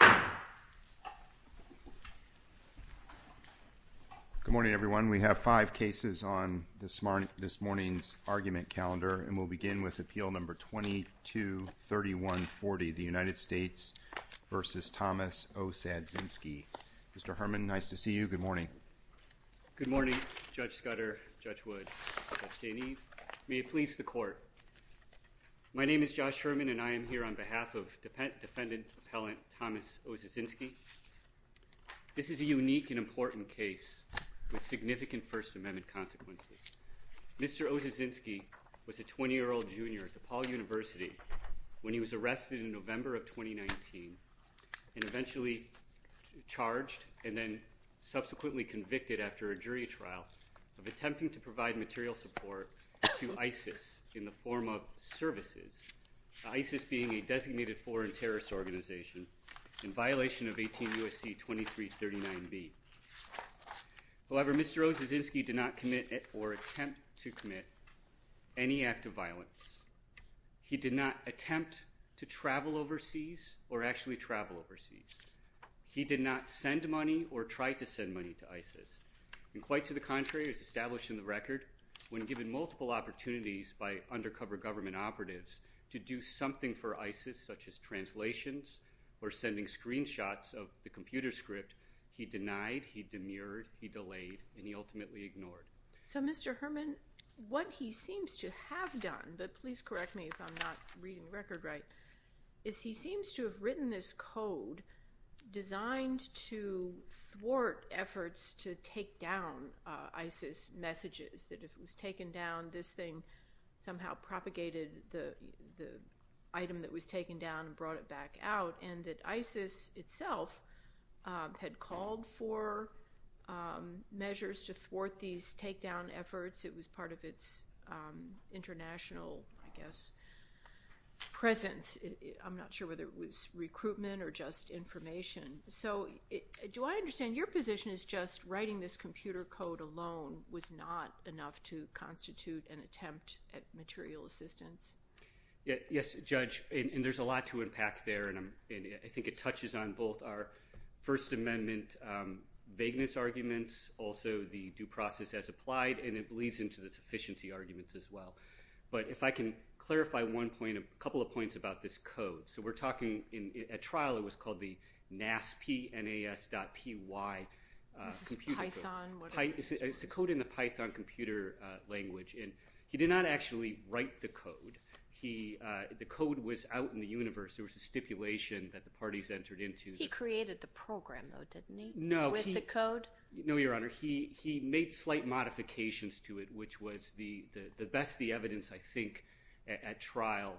Good morning, everyone. We have five cases on this morning's argument calendar, and we'll begin with Appeal No. 223140, the United States v. Thomas Osadzinski. Mr. Herman, nice to see you. Good morning. Good morning, Judge Scudder, Judge Wood, Judge Dainese. May it please the Court. My name is Josh Herman, and I am here on behalf of Defendant Appellant Thomas Osadzinski. This is a unique and important case with significant First Amendment consequences. Mr. Osadzinski was a 20-year-old junior at DePaul University when he was arrested in November of 2019 and eventually charged and then subsequently convicted after a jury trial of attempting to provide material support to ISIS in the form of terrorist organization in violation of 18 U.S.C. 2339b. However, Mr. Osadzinski did not commit or attempt to commit any act of violence. He did not attempt to travel overseas or actually travel overseas. He did not send money or try to send money to ISIS, and quite to the contrary, as established in the record, when given multiple opportunities by undercover government operatives to do something for ISIS, such as translations or sending screenshots of the computer script, he denied, he demurred, he delayed, and he ultimately ignored. So, Mr. Herman, what he seems to have done, but please correct me if I'm not reading the record right, is he seems to have written this code designed to thwart efforts to take down ISIS messages, that if it was taken down, this thing somehow propagated the item that was taken down and brought it back out, and that ISIS itself had called for measures to thwart these takedown efforts. It was part of its international, I guess, presence. I'm not sure whether it was recruitment or just information. So, do I understand your position is just writing this computer code alone was not enough to constitute an attempt at material assistance? Yes, Judge, and there's a lot to impact there, and I'm I think it touches on both our First Amendment vagueness arguments, also the due process as applied, and it bleeds into the sufficiency arguments as well. But if I can clarify one point, a couple of points about this code. So, we're talking in a trial, it was called the NASP, N-A-S dot P-Y. It's a code in the Python computer language, and he did not actually write the code. The code was out in the universe. There was a stipulation that the parties entered into. He created the program, though, didn't he? No. With the code? No, Your Honor, he made slight modifications to it, which was the best the evidence, I think, at trial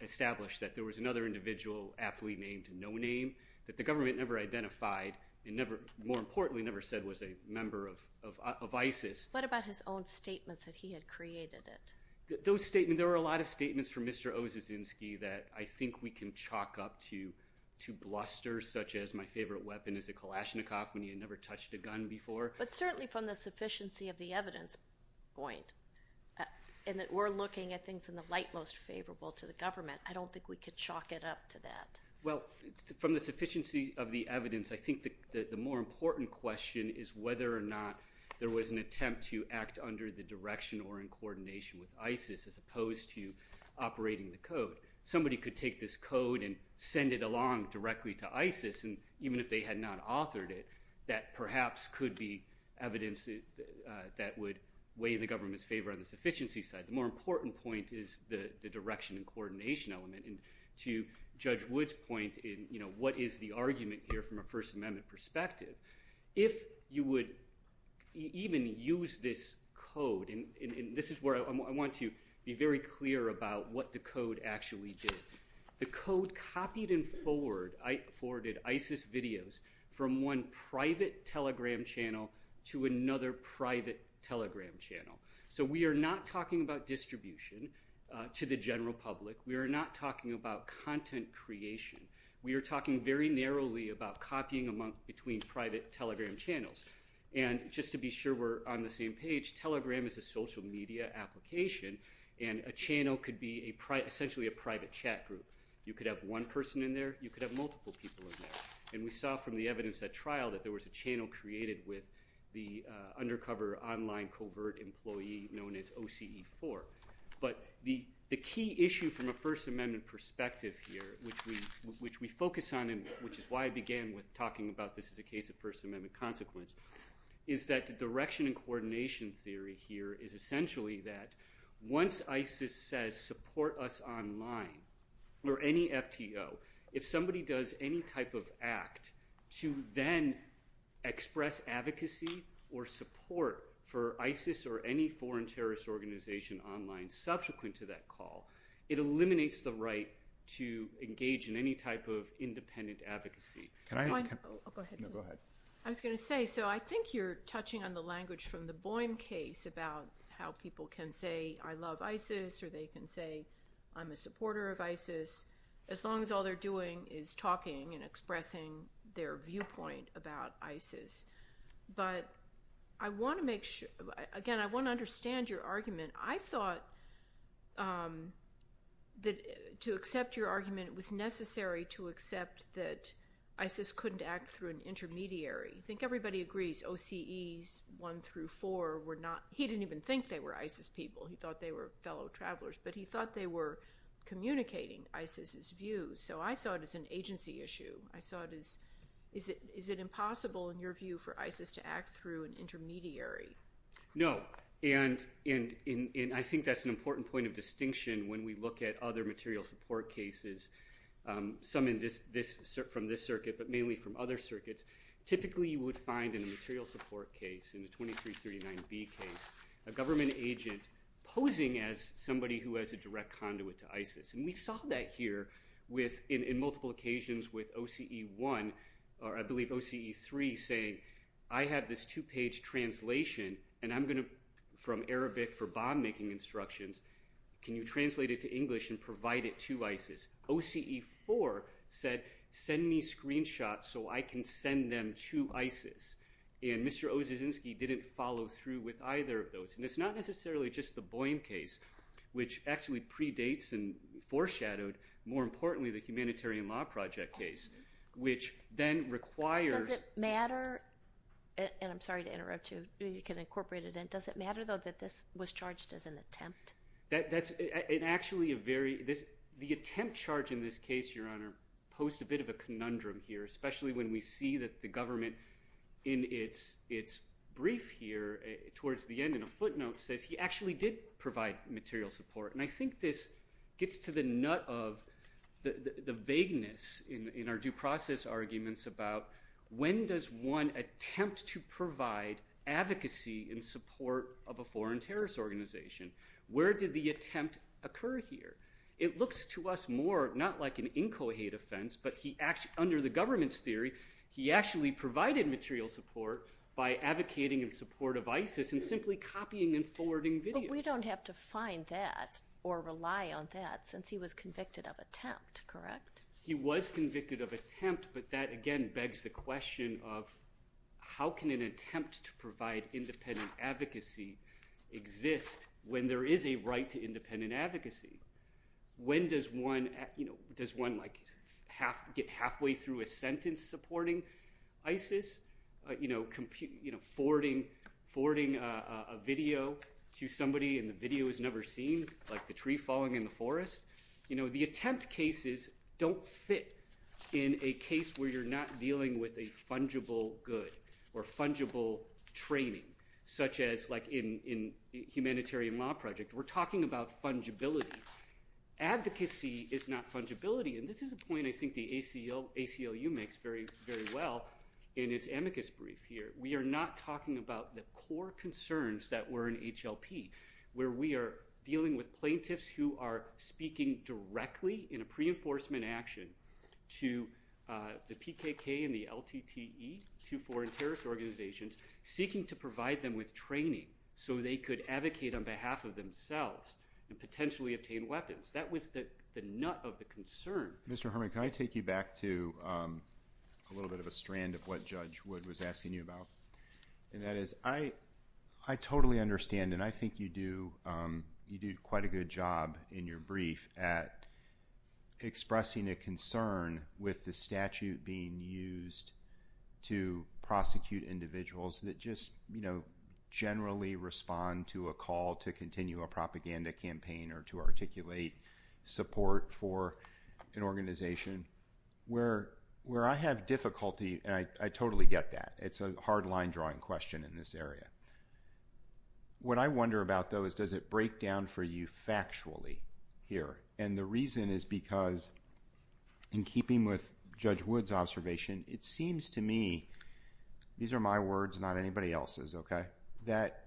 established that there was another individual aptly named No-Name that the government never identified and never, more importantly, never said was a member of ISIS. What about his own statements that he had created it? Those statements, there were a lot of statements from Mr. Ozyzynski that I think we can chalk up to blusters, such as my favorite weapon is a Kalashnikov when he had never touched a gun before. But certainly from the sufficiency of the evidence point, and that we're looking at things in the light most favorable to the government, I don't think we could chalk it up to that. Well, from the sufficiency of the evidence, I think that the more important question is whether or not there was an attempt to act under the direction or in coordination with ISIS as opposed to operating the code. Somebody could take this code and send it along directly to ISIS, and even if they had not authored it, that perhaps could be evidence that would weigh in the government's sufficiency side. The more important point is the direction and coordination element. And to Judge Wood's point in, you know, what is the argument here from a First Amendment perspective, if you would even use this code, and this is where I want to be very clear about what the code actually did. The code copied and forwarded ISIS videos from one private telegram channel to another private telegram channel. So we are not talking about distribution to the general public. We are not talking about content creation. We are talking very narrowly about copying between private telegram channels. And just to be sure we're on the same page, telegram is a social media application, and a channel could be essentially a private chat group. You could have one person in there, you could have multiple people in there. And we saw from the evidence at the undercover online covert employee known as OCE4. But the key issue from a First Amendment perspective here, which we focus on, and which is why I began with talking about this is a case of First Amendment consequence, is that the direction and coordination theory here is essentially that once ISIS says support us online, or any FTO, if somebody does any type of act to then express advocacy or support for ISIS or any foreign terrorist organization online subsequent to that call, it eliminates the right to engage in any type of independent advocacy. I was going to say, so I think you're touching on the language from the Boehm case about how people can say, I love ISIS, or they can say, I'm a supporter of ISIS, as long as all they're doing is talking and but I want to make sure, again, I want to understand your argument. I thought that to accept your argument, it was necessary to accept that ISIS couldn't act through an intermediary. I think everybody agrees OCEs 1 through 4 were not, he didn't even think they were ISIS people, he thought they were fellow travelers, but he thought they were communicating ISIS's views. So I saw it as an agency issue. I saw it as, is it impossible in your view for ISIS to act through an intermediary? No, and I think that's an important point of distinction when we look at other material support cases, some from this circuit, but mainly from other circuits. Typically you would find in a material support case, in the 2339B case, a government agent posing as somebody who has a direct conduit to ISIS, and we saw that here with, in multiple occasions with OCE 1, or I believe OCE 3 saying, I have this two-page translation, and I'm going to, from Arabic for bomb making instructions, can you translate it to English and provide it to ISIS? OCE 4 said, send me screenshots so I can send them to ISIS, and Mr. Ozyzynski didn't follow through with either of those, and it's not necessarily just the Boehm case, which actually predates and foreshadowed, more importantly, the Humanitarian Law Project case, which then requires- Does it matter, and I'm sorry to interrupt you, you can incorporate it in, does it matter though that this was charged as an attempt? That's, it actually, a very, this, the attempt charge in this case, your honor, post a bit of a conundrum here, especially when we see that the government in its brief here, towards the end in a footnote, says he actually did provide material support, and I think this gets to the nut of the vagueness in our due process arguments about when does one attempt to provide advocacy in support of a foreign terrorist organization? Where did the attempt occur here? It looks to us more, not like an incohate offense, but he actually, under the government's theory, he actually provided material support by advocating in support of ISIS and simply copying and forwarding videos. But we don't have to find that, or rely on that, since he was convicted of attempt, correct? He was convicted of attempt, but that again begs the question of how can an attempt to provide independent advocacy exist when there is a right to independent advocacy? And I think this is a point I think the ACLU, the ACLU has made, and I think the ACLU has made through a sentence supporting ISIS, forwarding a video to somebody, and the video is never seen, like the tree falling in the forest. The attempt cases don't fit in a case where you're not dealing with a fungible good or fungible training, such as in the humanitarian law project. We're talking about fungibility. Advocacy is not fungibility, and this is a point I think the ACLU makes very, very well in its amicus brief here. We are not talking about the core concerns that were in HLP, where we are dealing with plaintiffs who are speaking directly in a pre-enforcement action to the PKK and the LTTE, two foreign terrorist organizations, seeking to provide them with and potentially obtain weapons. That was the nut of the concern. Mr. Herman, can I take you back to a little bit of a strand of what Judge Wood was asking you about? And that is, I totally understand, and I think you do quite a good job in your brief at expressing a concern with the statute being used to prosecute individuals that just, you know, generally respond to a call to continue a propaganda campaign or to articulate support for an organization, where I have difficulty, and I totally get that. It's a hard line-drawing question in this area. What I wonder about, though, is does it break down for you factually here? And the reason is because, in keeping with Judge Wood's observation, it seems to me, these are my words, not anybody else's, okay, that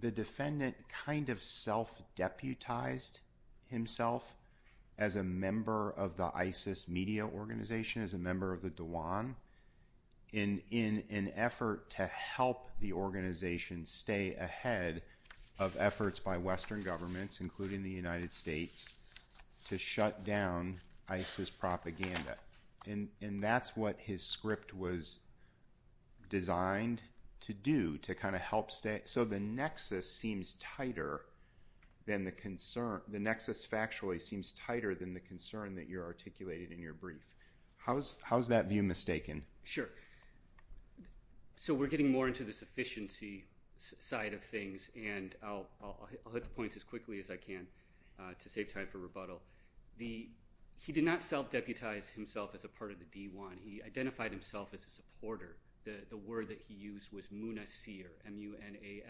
the defendant kind of self-deputized himself as a member of the ISIS media organization, as a member of the Dewan, in an effort to help the organization stay ahead of efforts by Western governments, including the United States, to shut down ISIS propaganda. And that's what his script was designed to do, to kind of help, so the nexus seems tighter than the concern, the nexus factually seems tighter than the concern that you articulated in your brief. How is that view mistaken? Sure. So we're getting more into the sufficiency side of things, and I'll hit the points as quickly as I can to save time for rebuttal. He did not self-deputize himself as a part of the Dewan. He identified himself as a supporter. The word that he used was Munasir, M-U-N-A-S-I-R,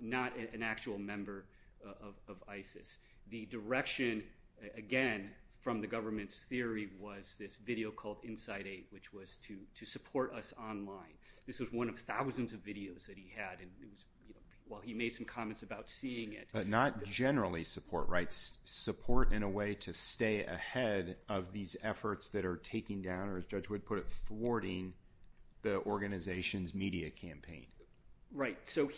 not an actual member of ISIS. The direction, again, from the government's theory was this video called Inside Eight, which was to support us online. This was one of thousands of videos that he had while he made some comments about seeing it. But not generally support, right? Support in a way to stay ahead of these efforts that are taking down, or as Judge Wood put it, thwarting the organization's media campaign. Right. So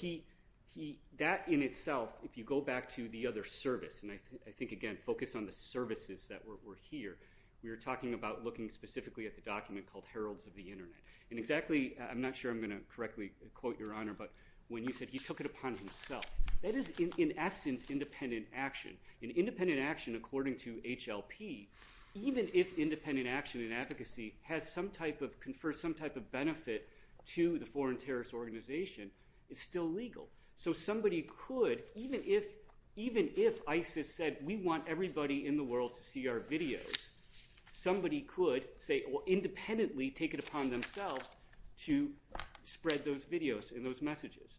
that in itself, if you go back to the other service, and I think, again, focus on the services that were here, we were talking about looking specifically at the document called I'm not sure I'm going to correctly quote your honor, but when you said he took it upon himself. That is, in essence, independent action. And independent action, according to HLP, even if independent action and advocacy has some type of, confer some type of benefit to the foreign terrorist organization, is still legal. So somebody could, even if ISIS said, we want everybody in the world to see our videos, somebody could say, independently take it upon themselves to spread those videos and those messages.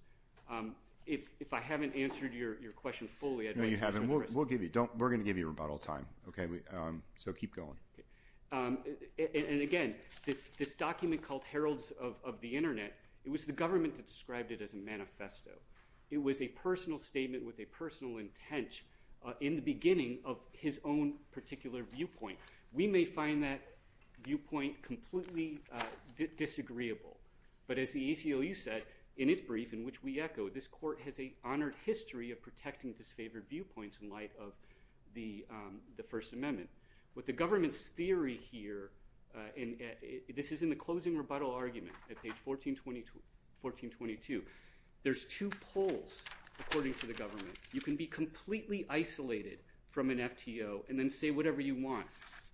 If I haven't answered your question fully, I don't know. You haven't. We'll give you don't. We're going to give you a rebuttal time. Okay. So keep going. And again, this document called Heralds of the Internet, it was the government that described it as a manifesto. It was a personal statement with a personal intent in the beginning of his own particular viewpoint. We may find that viewpoint completely disagreeable. But as the ACLU said in its brief, in which we echo, this court has an honored history of protecting disfavored viewpoints in light of the First Amendment. With the government's theory here, and this is in the closing rebuttal argument at page 1422, there's two poles, according to the government. You can be completely isolated from an FTO and then say whatever you want.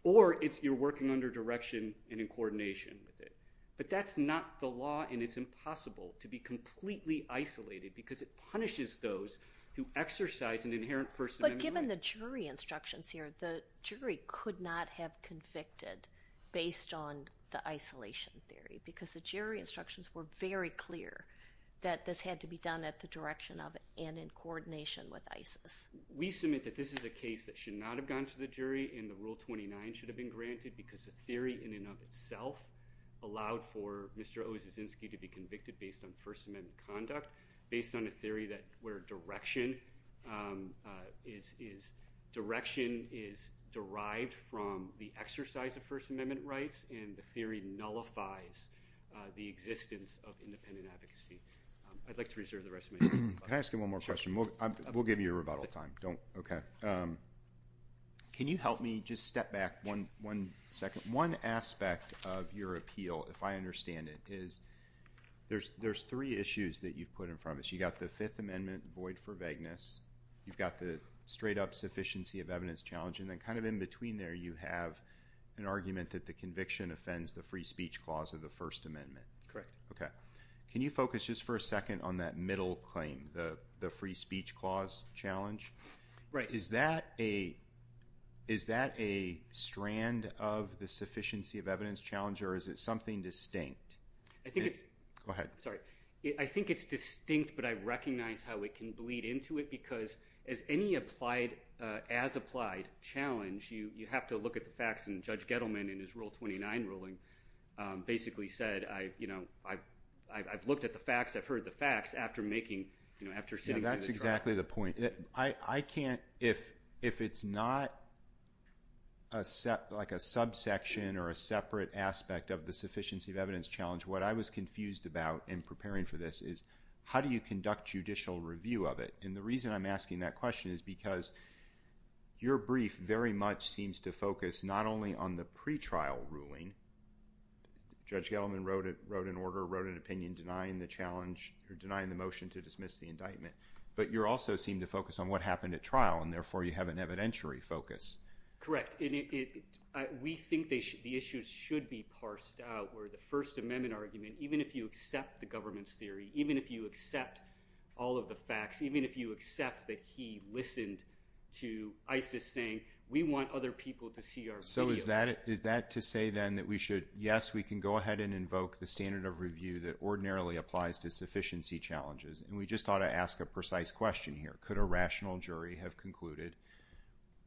Or it's you're working under direction and in coordination with it. But that's not the law and it's impossible to be completely isolated because it punishes those who exercise an inherent First Amendment. But given the jury instructions here, the jury could not have convicted based on the isolation theory because the jury instructions were very clear that this had to be done at the direction of and in coordination with ISIS. We submit that this is a case that should not have gone to the jury and the Rule 29 should have been granted because the theory in and of itself allowed for Mr. O. Zizinsky to be convicted based on First Amendment conduct, based on a theory that where direction is derived from the exercise of First Amendment rights and the theory nullifies the existence of independent advocacy. I'd like to reserve the Can I ask you one more question? We'll give you a rebuttal time. Can you help me just step back one second? One aspect of your appeal, if I understand it, is there's three issues that you've put in front of us. You've got the Fifth Amendment void for vagueness. You've got the straight up sufficiency of evidence challenge. And then kind of in between there you have an argument that the conviction offends the free speech clause of the First Amendment. Is that a strand of the sufficiency of evidence challenge or is it something distinct? I think it's distinct but I recognize how it can bleed into it because as any as applied challenge you have to look at the facts and Judge Gettleman in his Rule 29 ruling basically said I've looked at the facts, I've heard the facts after sitting through the trial. That's exactly the point. If it's not like a subsection or a separate aspect of the sufficiency of evidence challenge, what I was confused about in preparing for this is how do you conduct judicial review of it? And the reason I'm asking that question is because your brief very much seems to focus not only on the pre-trial ruling, Judge Gettleman wrote an order, wrote an opinion denying the challenge or denying the motion to dismiss the indictment, but you also seem to focus on what happened at trial and therefore you have an evidentiary focus. Correct. We think the issues should be parsed out where the First Amendment argument, even if you accept the government's theory, even if you accept all of the facts, even if you accept that he listened to ISIS saying we want other people to see our video. So is that to say then that we should, yes we can go ahead and invoke the standard of review that ordinarily applies to sufficiency challenges and we just ought to ask a precise question here. Could a rational jury have concluded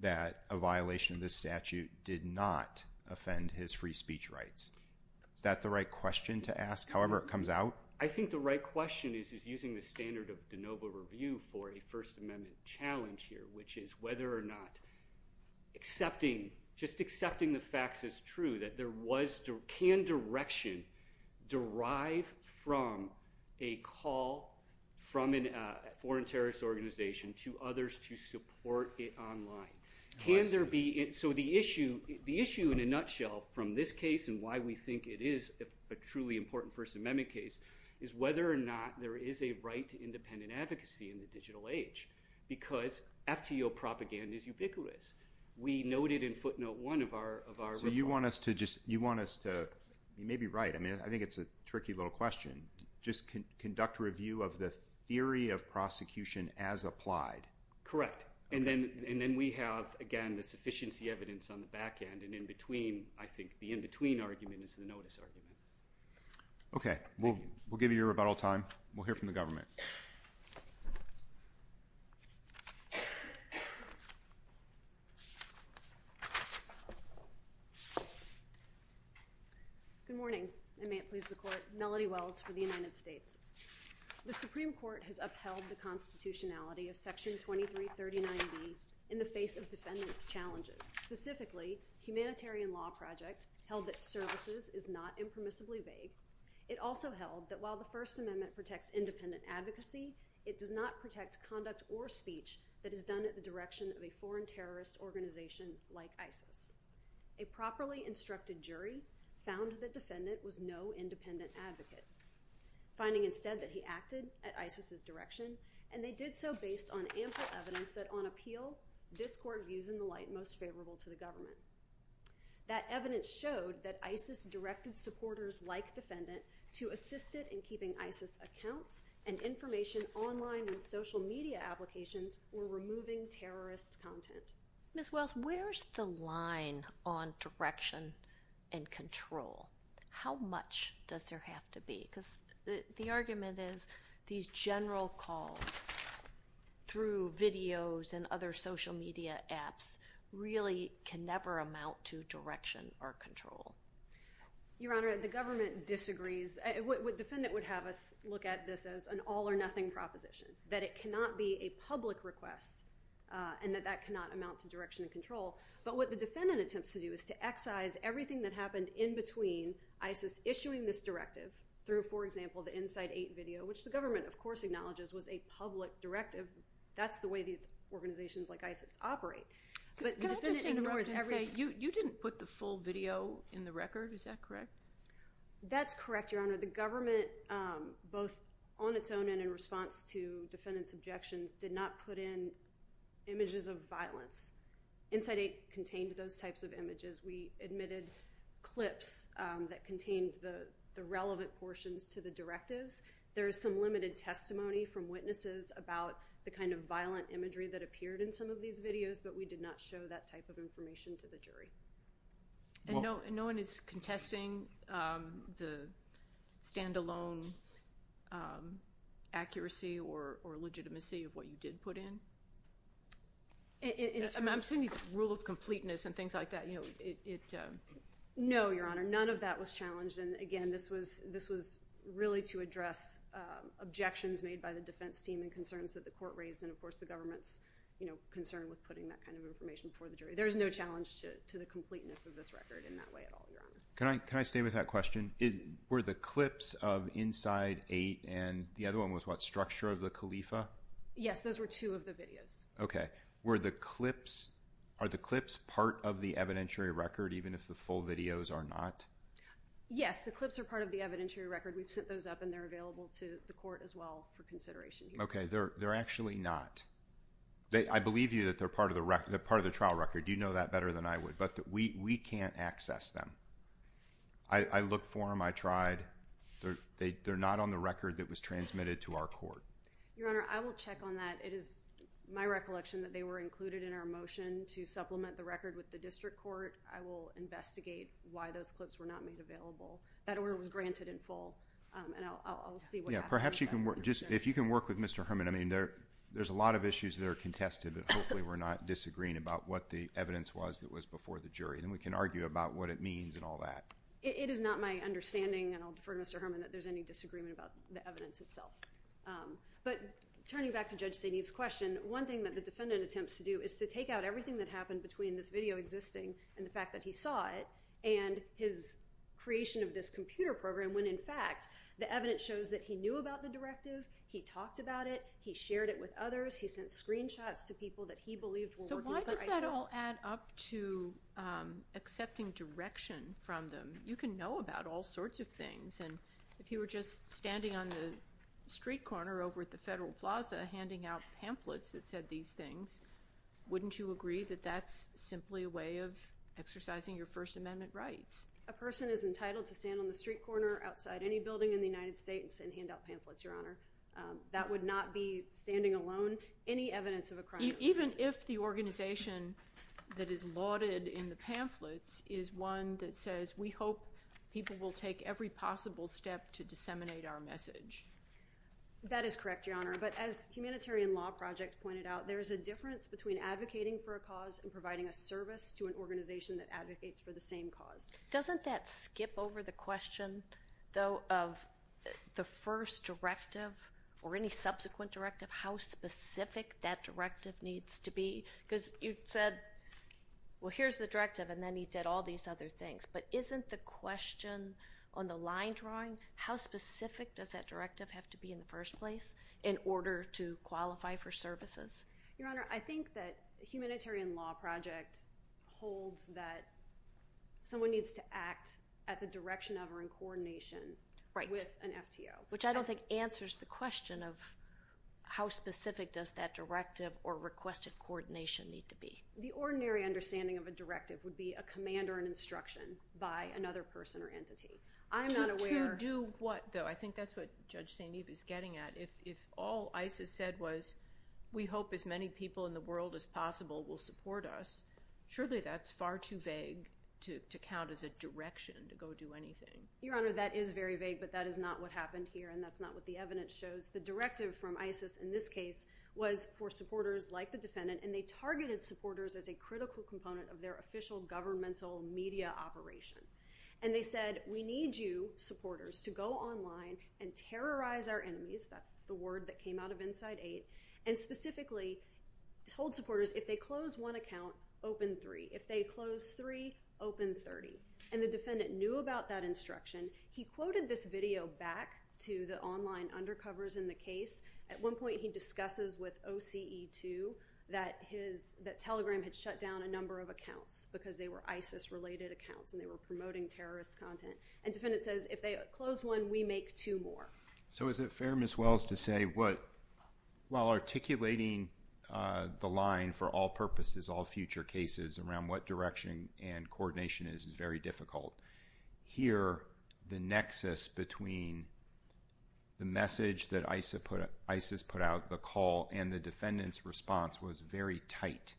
that a violation of this statute did not offend his free speech rights? Is that the right question to ask however it comes out? I think the right question is using the standard of de novo review for a First Amendment challenge here which is whether or not accepting, just accepting the facts as true that there was, can direction derive from a call from a foreign terrorist organization to others to support it online? Can there be, so the issue in a nutshell from this case and why we think it is a truly important First Amendment case is whether or not there is a right to independent advocacy in the digital age because FTO propaganda is ubiquitous. We noted in footnote one of our- So you want us to just, you want us to, you may be right, I mean I think it's a tricky little question. Just conduct a review of the theory of prosecution as applied. Correct. And then we have again the sufficiency evidence on the back end and in between, I think the in between argument is the notice argument. Okay, we'll give you your rebuttal time. We'll hear from the government. Good morning and may it please the court. Melody Wells for the United States. The Supreme Court has upheld the constitutionality of section 2339b in the face of defendants challenges, specifically humanitarian law project held that services is not impermissibly vague. It also held that while the First Amendment protects independent advocacy, it does not protect conduct or speech that is done at the direction of a foreign terrorist organization like ISIS. A properly instructed jury found that defendant was no independent advocate, finding instead that he acted at ISIS's direction and they did so based on ample evidence that on government. That evidence showed that ISIS directed supporters like defendant to assist it in keeping ISIS accounts and information online and social media applications were removing terrorist content. Ms. Wells, where's the line on direction and control? How much does there have to be? Because the argument is these general calls through videos and other media apps really can never amount to direction or control. Your Honor, the government disagrees. Defendant would have us look at this as an all or nothing proposition, that it cannot be a public request and that that cannot amount to direction and control. But what the defendant attempts to do is to excise everything that happened in between ISIS issuing this directive through, for example, the Inside 8 video, which the government of course acknowledges was a public directive. That's the way these organizations like ISIS operate. You didn't put the full video in the record, is that correct? That's correct, Your Honor. The government, both on its own and in response to defendant's objections, did not put in images of violence. Inside 8 contained those types of images. We admitted clips that contained the relevant portions to the directives. There is some limited testimony from witnesses about the kind of violent imagery that appeared in some of these videos, but we did not show that type of information to the jury. And no one is contesting the standalone accuracy or legitimacy of what you did put in? I'm assuming the rule of completeness and things like that, you know, it... No, Your Honor. None of that was challenged. And again, this was really to address objections made by the defense team and concerns that the court raised and of course the government's, you know, concern with putting that kind of information before the jury. There's no challenge to the completeness of this record in that way at all, Your Honor. Can I stay with that question? Were the clips of Inside 8 and the other one was what, structure of the Khalifa? Yes, those were two of the videos. Okay. Were the clips, are the clips part of the evidentiary record even if the full videos are not? Yes, the clips are part of the evidentiary record. We've sent those up and they're available to the court as well for consideration. Okay. They're actually not. I believe you that they're part of the trial record. You know that better than I would, but we can't access them. I looked for them. I tried. They're not on the record that was transmitted to our court. Your Honor, I will check on that. It is my recollection that they were included in our motion to supplement the record with the district court. I will investigate why those clips were not made available. That order was granted in full and I'll see what happens. Yeah, perhaps you can work, just if you can work with Mr. Herman, I mean there, there's a lot of issues that are contested but hopefully we're not disagreeing about what the evidence was that was before the jury. Then we can argue about what it means and all that. It is not my understanding and I'll defer to Mr. Herman that there's any disagreement about the evidence itself. But turning back to Judge Saineev's question, one thing that the defendant attempts to do is to take out everything that happened between this video existing and the fact that he saw it and his creation of this computer program when in fact the evidence shows that he knew about the directive, he talked about it, he shared it with others, he sent screenshots to people that he believed were working for ISIS. So why does that all add up to accepting direction from them? You can know about all sorts of things and if you were just standing on the street corner over at the Federal Plaza handing out pamphlets that said these things, wouldn't you agree that that's simply a way of exercising your First Amendment rights? A person is entitled to stand on the street corner outside any building in the United States and hand out pamphlets, Your Honor. That would not be standing alone any evidence of a crime. Even if the is one that says we hope people will take every possible step to disseminate our message. That is correct, Your Honor. But as Humanitarian Law Project pointed out, there is a difference between advocating for a cause and providing a service to an organization that advocates for the same cause. Doesn't that skip over the question though of the first directive or any subsequent directive? How specific that directive needs to be? Because you said, well here's the directive and then he did all these other things. But isn't the question on the line drawing, how specific does that directive have to be in the first place in order to qualify for services? Your Honor, I think that Humanitarian Law Project holds that someone needs to act at the direction of or in coordination with an FTO. Which I don't think answers the question of how specific does that directive or requested coordination need to be. The ordinary understanding of a directive would be a command or an instruction by another person or entity. I'm not aware. To do what though? I think that's what Judge St. Eve is getting at. If all ISIS said was we hope as many people in the world as possible will support us, surely that's far too vague to count as a direction to go do anything. Your Honor, that is very vague but that is not what happened here and that's not what the evidence shows. The directive from ISIS in this case was for supporters like the defendant and they targeted supporters as a critical component of their official governmental media operation. And they said, we need you supporters to go online and terrorize our enemies. That's the word that came out of Inside Eight and specifically told supporters if they close one account, open three. If they close three, open 30. And the defendant knew about that instruction. He quoted this video back to the online undercovers in the case. At one point he discusses with OCE2 that Telegram had shut down a number of accounts because they were ISIS related accounts and they were promoting terrorist content. And defendant says if they close one, we make two more. So is it fair, Ms. Wells, to say what while articulating the line for all purposes, all future cases around what direction and coordination is, is very difficult. Here, the nexus between the message that ISIS put out, the call and the defendant's response was very tight.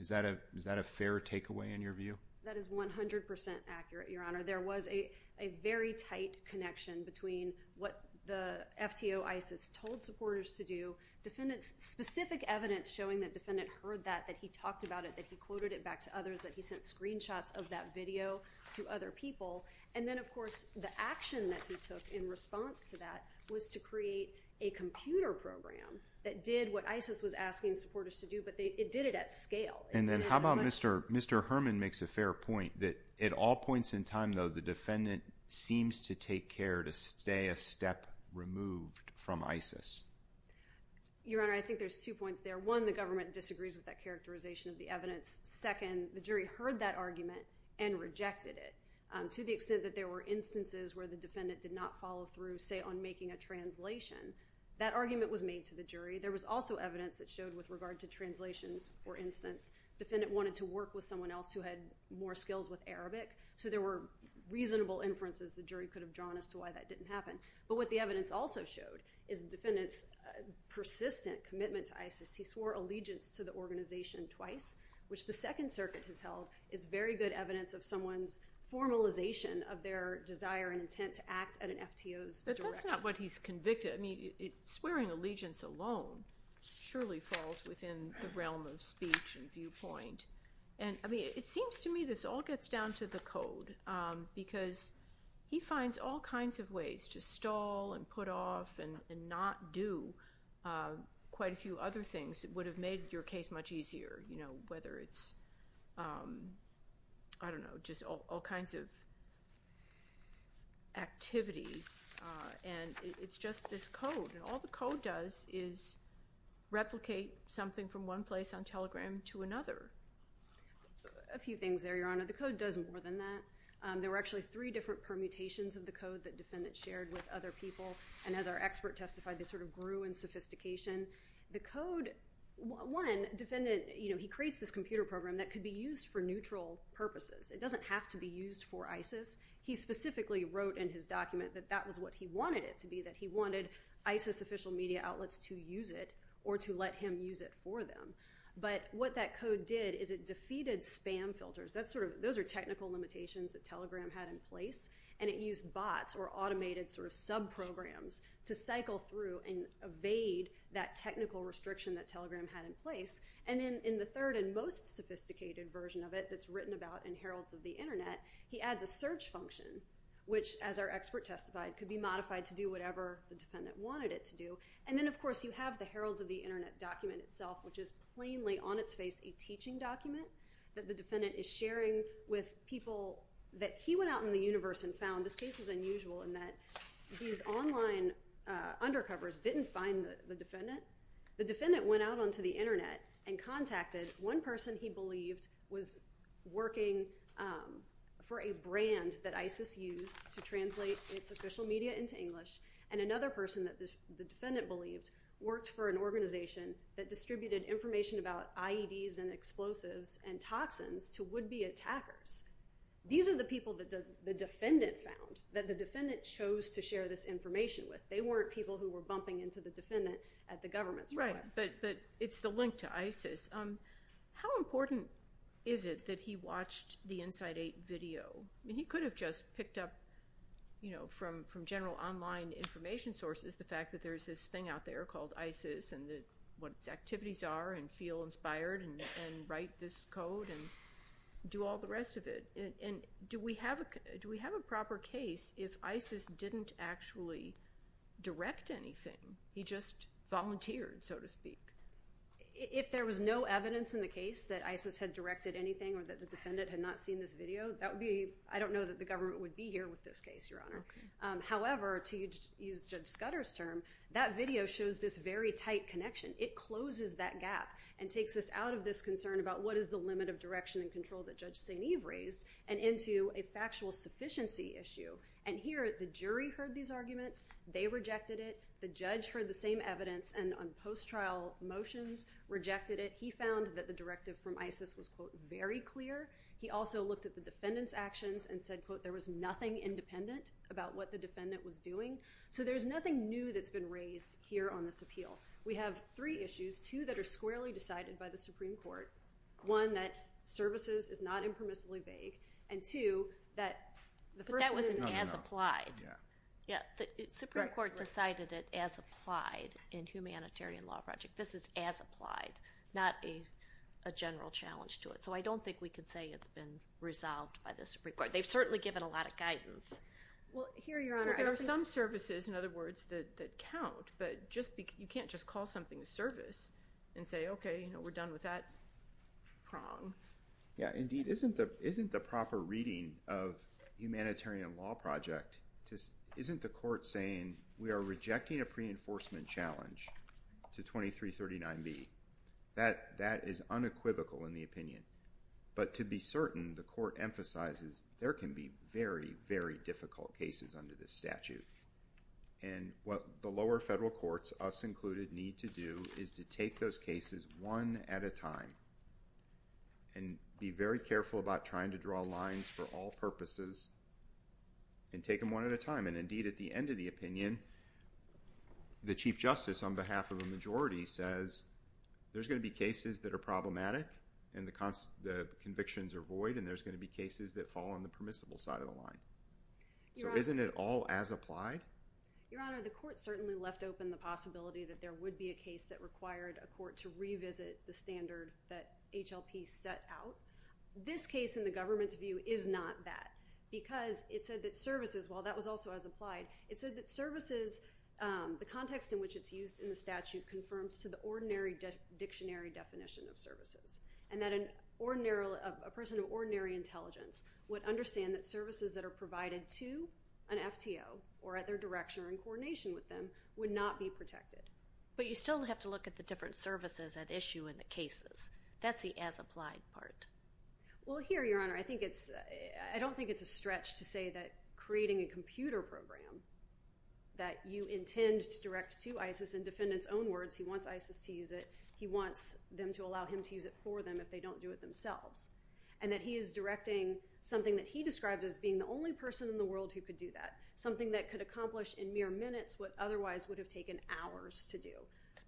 Is that a fair takeaway in your view? That is 100% accurate, Your Honor. There was a very tight connection between what the FTO ISIS told supporters to do, defendant's specific evidence showing that defendant heard that, that he talked about it, that he quoted it back to others, that he sent screenshots of that video to other people. And then, of course, the action that he took in response to that was to create a computer program that did what ISIS was asking supporters to do, but it did it at scale. And then how about Mr. Herman makes a fair point that at all points in time, though, the defendant seems to take care to stay a step removed from ISIS. Your Honor, I think there's two points there. One, the government disagrees with that characterization of the evidence. Second, the jury heard that argument and rejected it to the extent that there were instances where the defendant did not follow through, say, on making a translation. That argument was made to the jury. There was also evidence that showed with regard to translations, for instance, defendant wanted to work with someone else who had more skills with Arabic. So there were reasonable inferences the jury could have drawn as to why that didn't happen. But what the evidence also showed is the defendant's persistent commitment to ISIS. He swore allegiance to the organization twice, which the Second Circuit has held is very good evidence of someone's formalization of their desire and intent to act at an FTO's direction. But that's not what he's convicted. I mean, swearing allegiance alone surely falls within the realm of speech and viewpoint. And I mean, it seems to me this all gets down to the code, because he finds all kinds of ways to stall and put off and not do quite a few other things that would have made your case much easier, whether it's, I don't know, just all kinds of activities. And it's just this code. And all the code does is replicate something from one place on Telegram to another. A few things there, Your Honor. The code does more than that. There were actually three different permutations of the code that defendants shared with other people. And as our expert testified, they sort of grew in sophistication. The code, one, he creates this computer program that could be used for neutral purposes. It doesn't have to be used for ISIS. He specifically wrote in his document that that was what he wanted it to be, that he wanted ISIS official media outlets to use it or to let him use it for them. But what that code did is it defeated spam filters. Those are technical limitations that Telegram had in place. And it used bots or automated sort of sub-programs to cycle through and evade that technical restriction that Telegram had in place. And then in the third and most sophisticated version of it that's written about in Heralds of the Internet, he adds a search function, which, as our expert testified, could be modified to do whatever the defendant wanted it to do. And then, of course, you have the Heralds of the Internet document itself, which is plainly on its face a teaching document that the defendant is sharing with people that he went out in the universe and found. This case is unusual in that these online undercovers didn't find the defendant. The defendant went out onto the internet and contacted one person he believed was working for a brand that ISIS used to translate its official media into English and another person that the defendant believed worked for an organization that distributed information about IEDs and explosives and toxins to would-be attackers. These are the people that the defendant found, that the defendant chose to share this information with. They weren't people who were bumping into the defendant at the government's request. Right, but it's the link to ISIS. How important is it that he watched the Inside 8 video? I mean, he could have just picked up from general online information sources the fact that there's this thing out there called ISIS and what its activities are and feel inspired and write this code and do all the rest of it. Do we have a proper case if ISIS didn't actually direct anything? He just volunteered, so to speak. If there was no evidence in the case that ISIS had directed anything or that the defendant had not seen this video, I don't know that the government would be here with this case, Your Honor. However, to use Judge Scudder's term, that video shows this very tight connection. It closes that gap and takes us out of this concern about what is the limit of direction and control that Judge St. Eve raised and into a factual sufficiency issue. And here, the jury heard these arguments. They rejected it. The judge heard the same evidence and on post-trial motions rejected it. He found that the directive from ISIS was, quote, very clear. He also looked at the defendant's actions and said, quote, there was nothing independent about what the defendant was doing. So there's nothing new that's been raised here on this appeal. We have three issues, two that are squarely decided by the Supreme Court. One, that services is not impermissibly vague. And two, that the first— But that was an as-applied. Yeah, the Supreme Court decided it as-applied in humanitarian law project. This is as-applied, not a general challenge to it. So I don't think we could say it's been resolved by the Supreme Court. They've certainly given a lot of guidance. Well, here, Your Honor— There are some services, in other words, that count. But you can't just call something a service and say, OK, we're done with that prong. Yeah, indeed. Isn't the proper reading of humanitarian law project—isn't the court saying we are rejecting a pre-enforcement challenge to 2339B? That is unequivocal in the opinion. But to be certain, the court emphasizes there can be very, very difficult cases under this statute. And what the lower federal courts, us included, need to do is to take those cases one at a time and be very careful about trying to draw lines for all purposes and take them one at a time. And indeed, at the end of the opinion, the Chief Justice, on behalf of a majority, says there's going to be cases that are problematic and the convictions are void, and there's going to be cases that fall on the permissible side of the line. So isn't it all as applied? Your Honor, the court certainly left open the possibility that there would be a case that required a court to revisit the standard that HLP set out. This case, in the government's view, is not that because it said that services—while that was also as applied—it said that services, the context in which it's used in the statute, confirms to the ordinary dictionary definition of services and that a person of ordinary intelligence would understand that services that are provided to an FTO or at their direction or in coordination with them would not be protected. But you still have to look at the different services at issue in the cases. That's the as applied part. Well, here, Your Honor, I think it's—I don't think it's a stretch to say that creating a computer program that you intend to direct to ISIS in defendants' own words—he wants ISIS to use it, he wants them to allow him to use it for them if they don't do it themselves—and that he is directing something that he described as being the only person in the world who could do that, something that could accomplish in mere minutes what otherwise would have taken hours to do.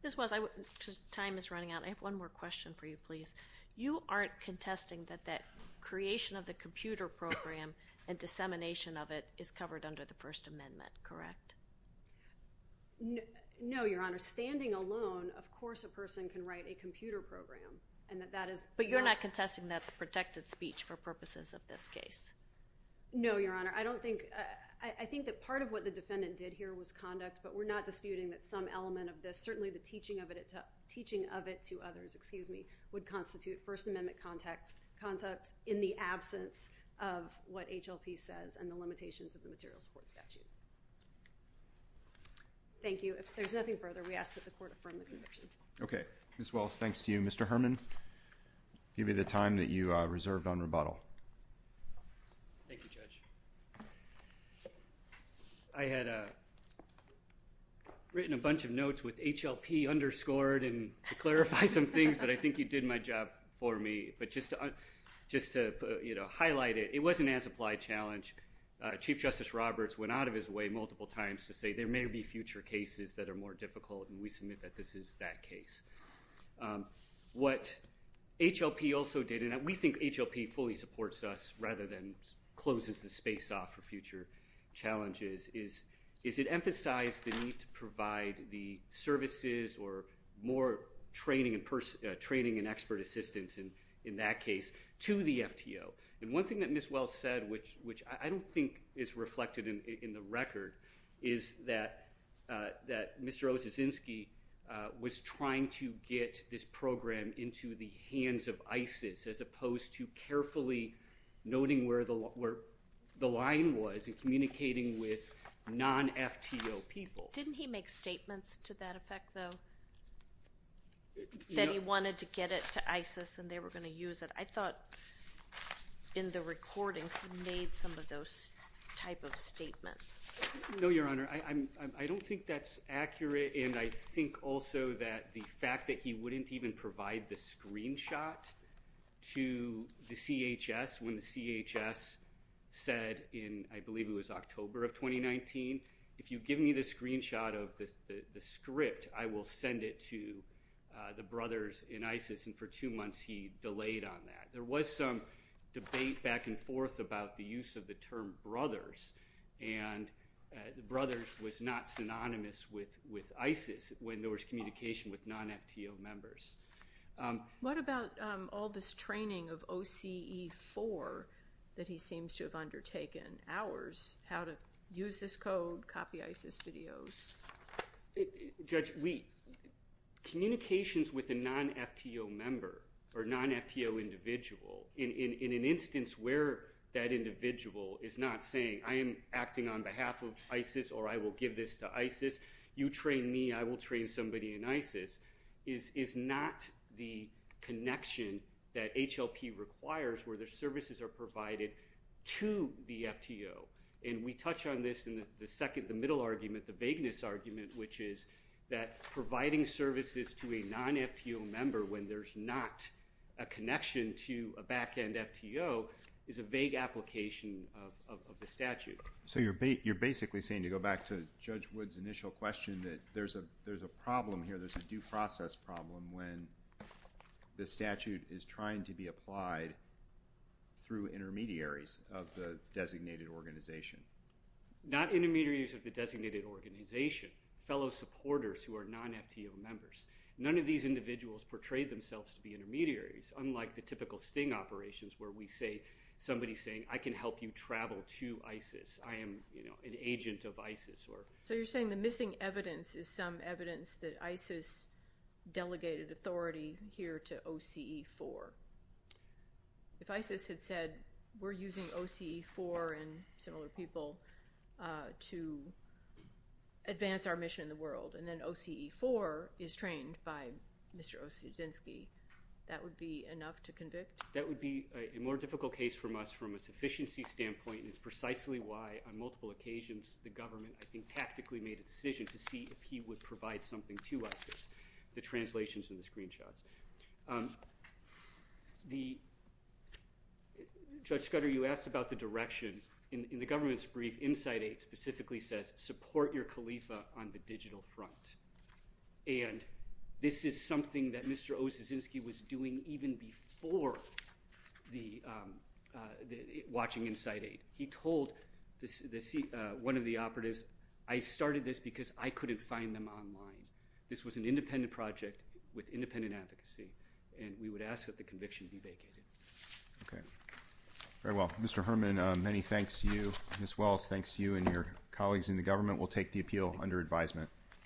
This was—time is running out. I have one more question for you, please. You aren't contesting that that creation of the computer program and dissemination of it is covered under the First Amendment, correct? No, Your Honor. Standing alone, of course, a person can write a computer program and that that is— But you're not contesting that's protected speech for purposes of this case? No, Your Honor. I don't think—I think that part of what the defendant did here was conduct, but we're not disputing that some element of this, certainly the teaching of it to others, excuse me, would constitute First Amendment conduct in the absence of what HLP says and limitations of the material support statute. Thank you. If there's nothing further, we ask that the Court affirm the conviction. Okay. Ms. Wells, thanks to you. Mr. Herman, give me the time that you reserved on rebuttal. Thank you, Judge. I had written a bunch of notes with HLP underscored to clarify some things, but I think you did my job for me. But just to highlight it, it was an as-applied challenge. Chief Justice Roberts went out of his way multiple times to say there may be future cases that are more difficult, and we submit that this is that case. What HLP also did, and we think HLP fully supports us rather than closes the space off for future challenges, is it emphasized the need to provide the services or more training and expert assistance in that case to the FTO. And one thing that Ms. Wells said, which I don't think is reflected in the record, is that Mr. Osiczynski was trying to get this program into the hands of ISIS, as opposed to carefully noting where the line was in communicating with non-FTO people. Didn't he make statements to that effect, though, that he wanted to get it to ISIS and they were going to use it? I thought in the recordings he made some of those type of statements. No, Your Honor. I don't think that's accurate, and I think also that the fact that he wouldn't even provide the screenshot to the CHS when the CHS said in, I believe it was October of 2019, if you give me the screenshot of the script, I will send it to the brothers in ISIS. And for two months he delayed on that. There was some debate back and forth about the use of the term brothers, and the brothers was not synonymous with ISIS when there was communication with non-FTO members. What about all this training of OCE4 that he seems to have undertaken, hours, how to use this code, copy ISIS videos? Judge, communications with a non-FTO member or non-FTO individual in an instance where that individual is not saying, I am acting on behalf of ISIS or I will give this to ISIS, you train me, I will train somebody in ISIS, is not the connection that HLP requires where the services are provided to the FTO. And we touch on this in the middle argument, the vagueness argument, which is that providing services to a non-FTO member when there's not a connection to a back-end FTO is a vague application of the statute. So you're basically saying, to go back to Judge Wood's initial question, that there's a problem here, there's a due process problem when the statute is trying to be applied through intermediaries of the designated organization. Not intermediaries of the designated organization, fellow supporters who are non-FTO members. None of these individuals portray themselves to be intermediaries, unlike the typical sting operations where we say, somebody's saying, I can help you travel to ISIS, I am an agent of ISIS. So you're saying the missing evidence is some evidence that ISIS delegated authority here to OCE4. If ISIS had said, we're using OCE4 and similar people to advance our mission in the world, and then OCE4 is trained by Mr. Osiedzinski, that would be enough to convict? That would be a more difficult case for us from a sufficiency standpoint, and it's precisely why on multiple occasions the government tactically made a decision to see if he would provide something to ISIS, the translations and the screenshots. Judge Scudder, you asked about the direction. In the government's brief, Insight 8 specifically says, support your Khalifa on the the watching Insight 8. He told one of the operatives, I started this because I couldn't find them online. This was an independent project with independent advocacy, and we would ask that the conviction be vacated. Okay, very well. Mr. Herman, many thanks to you. Ms. Wells, thanks to you and your colleagues in the government. We'll take the appeal under advisement.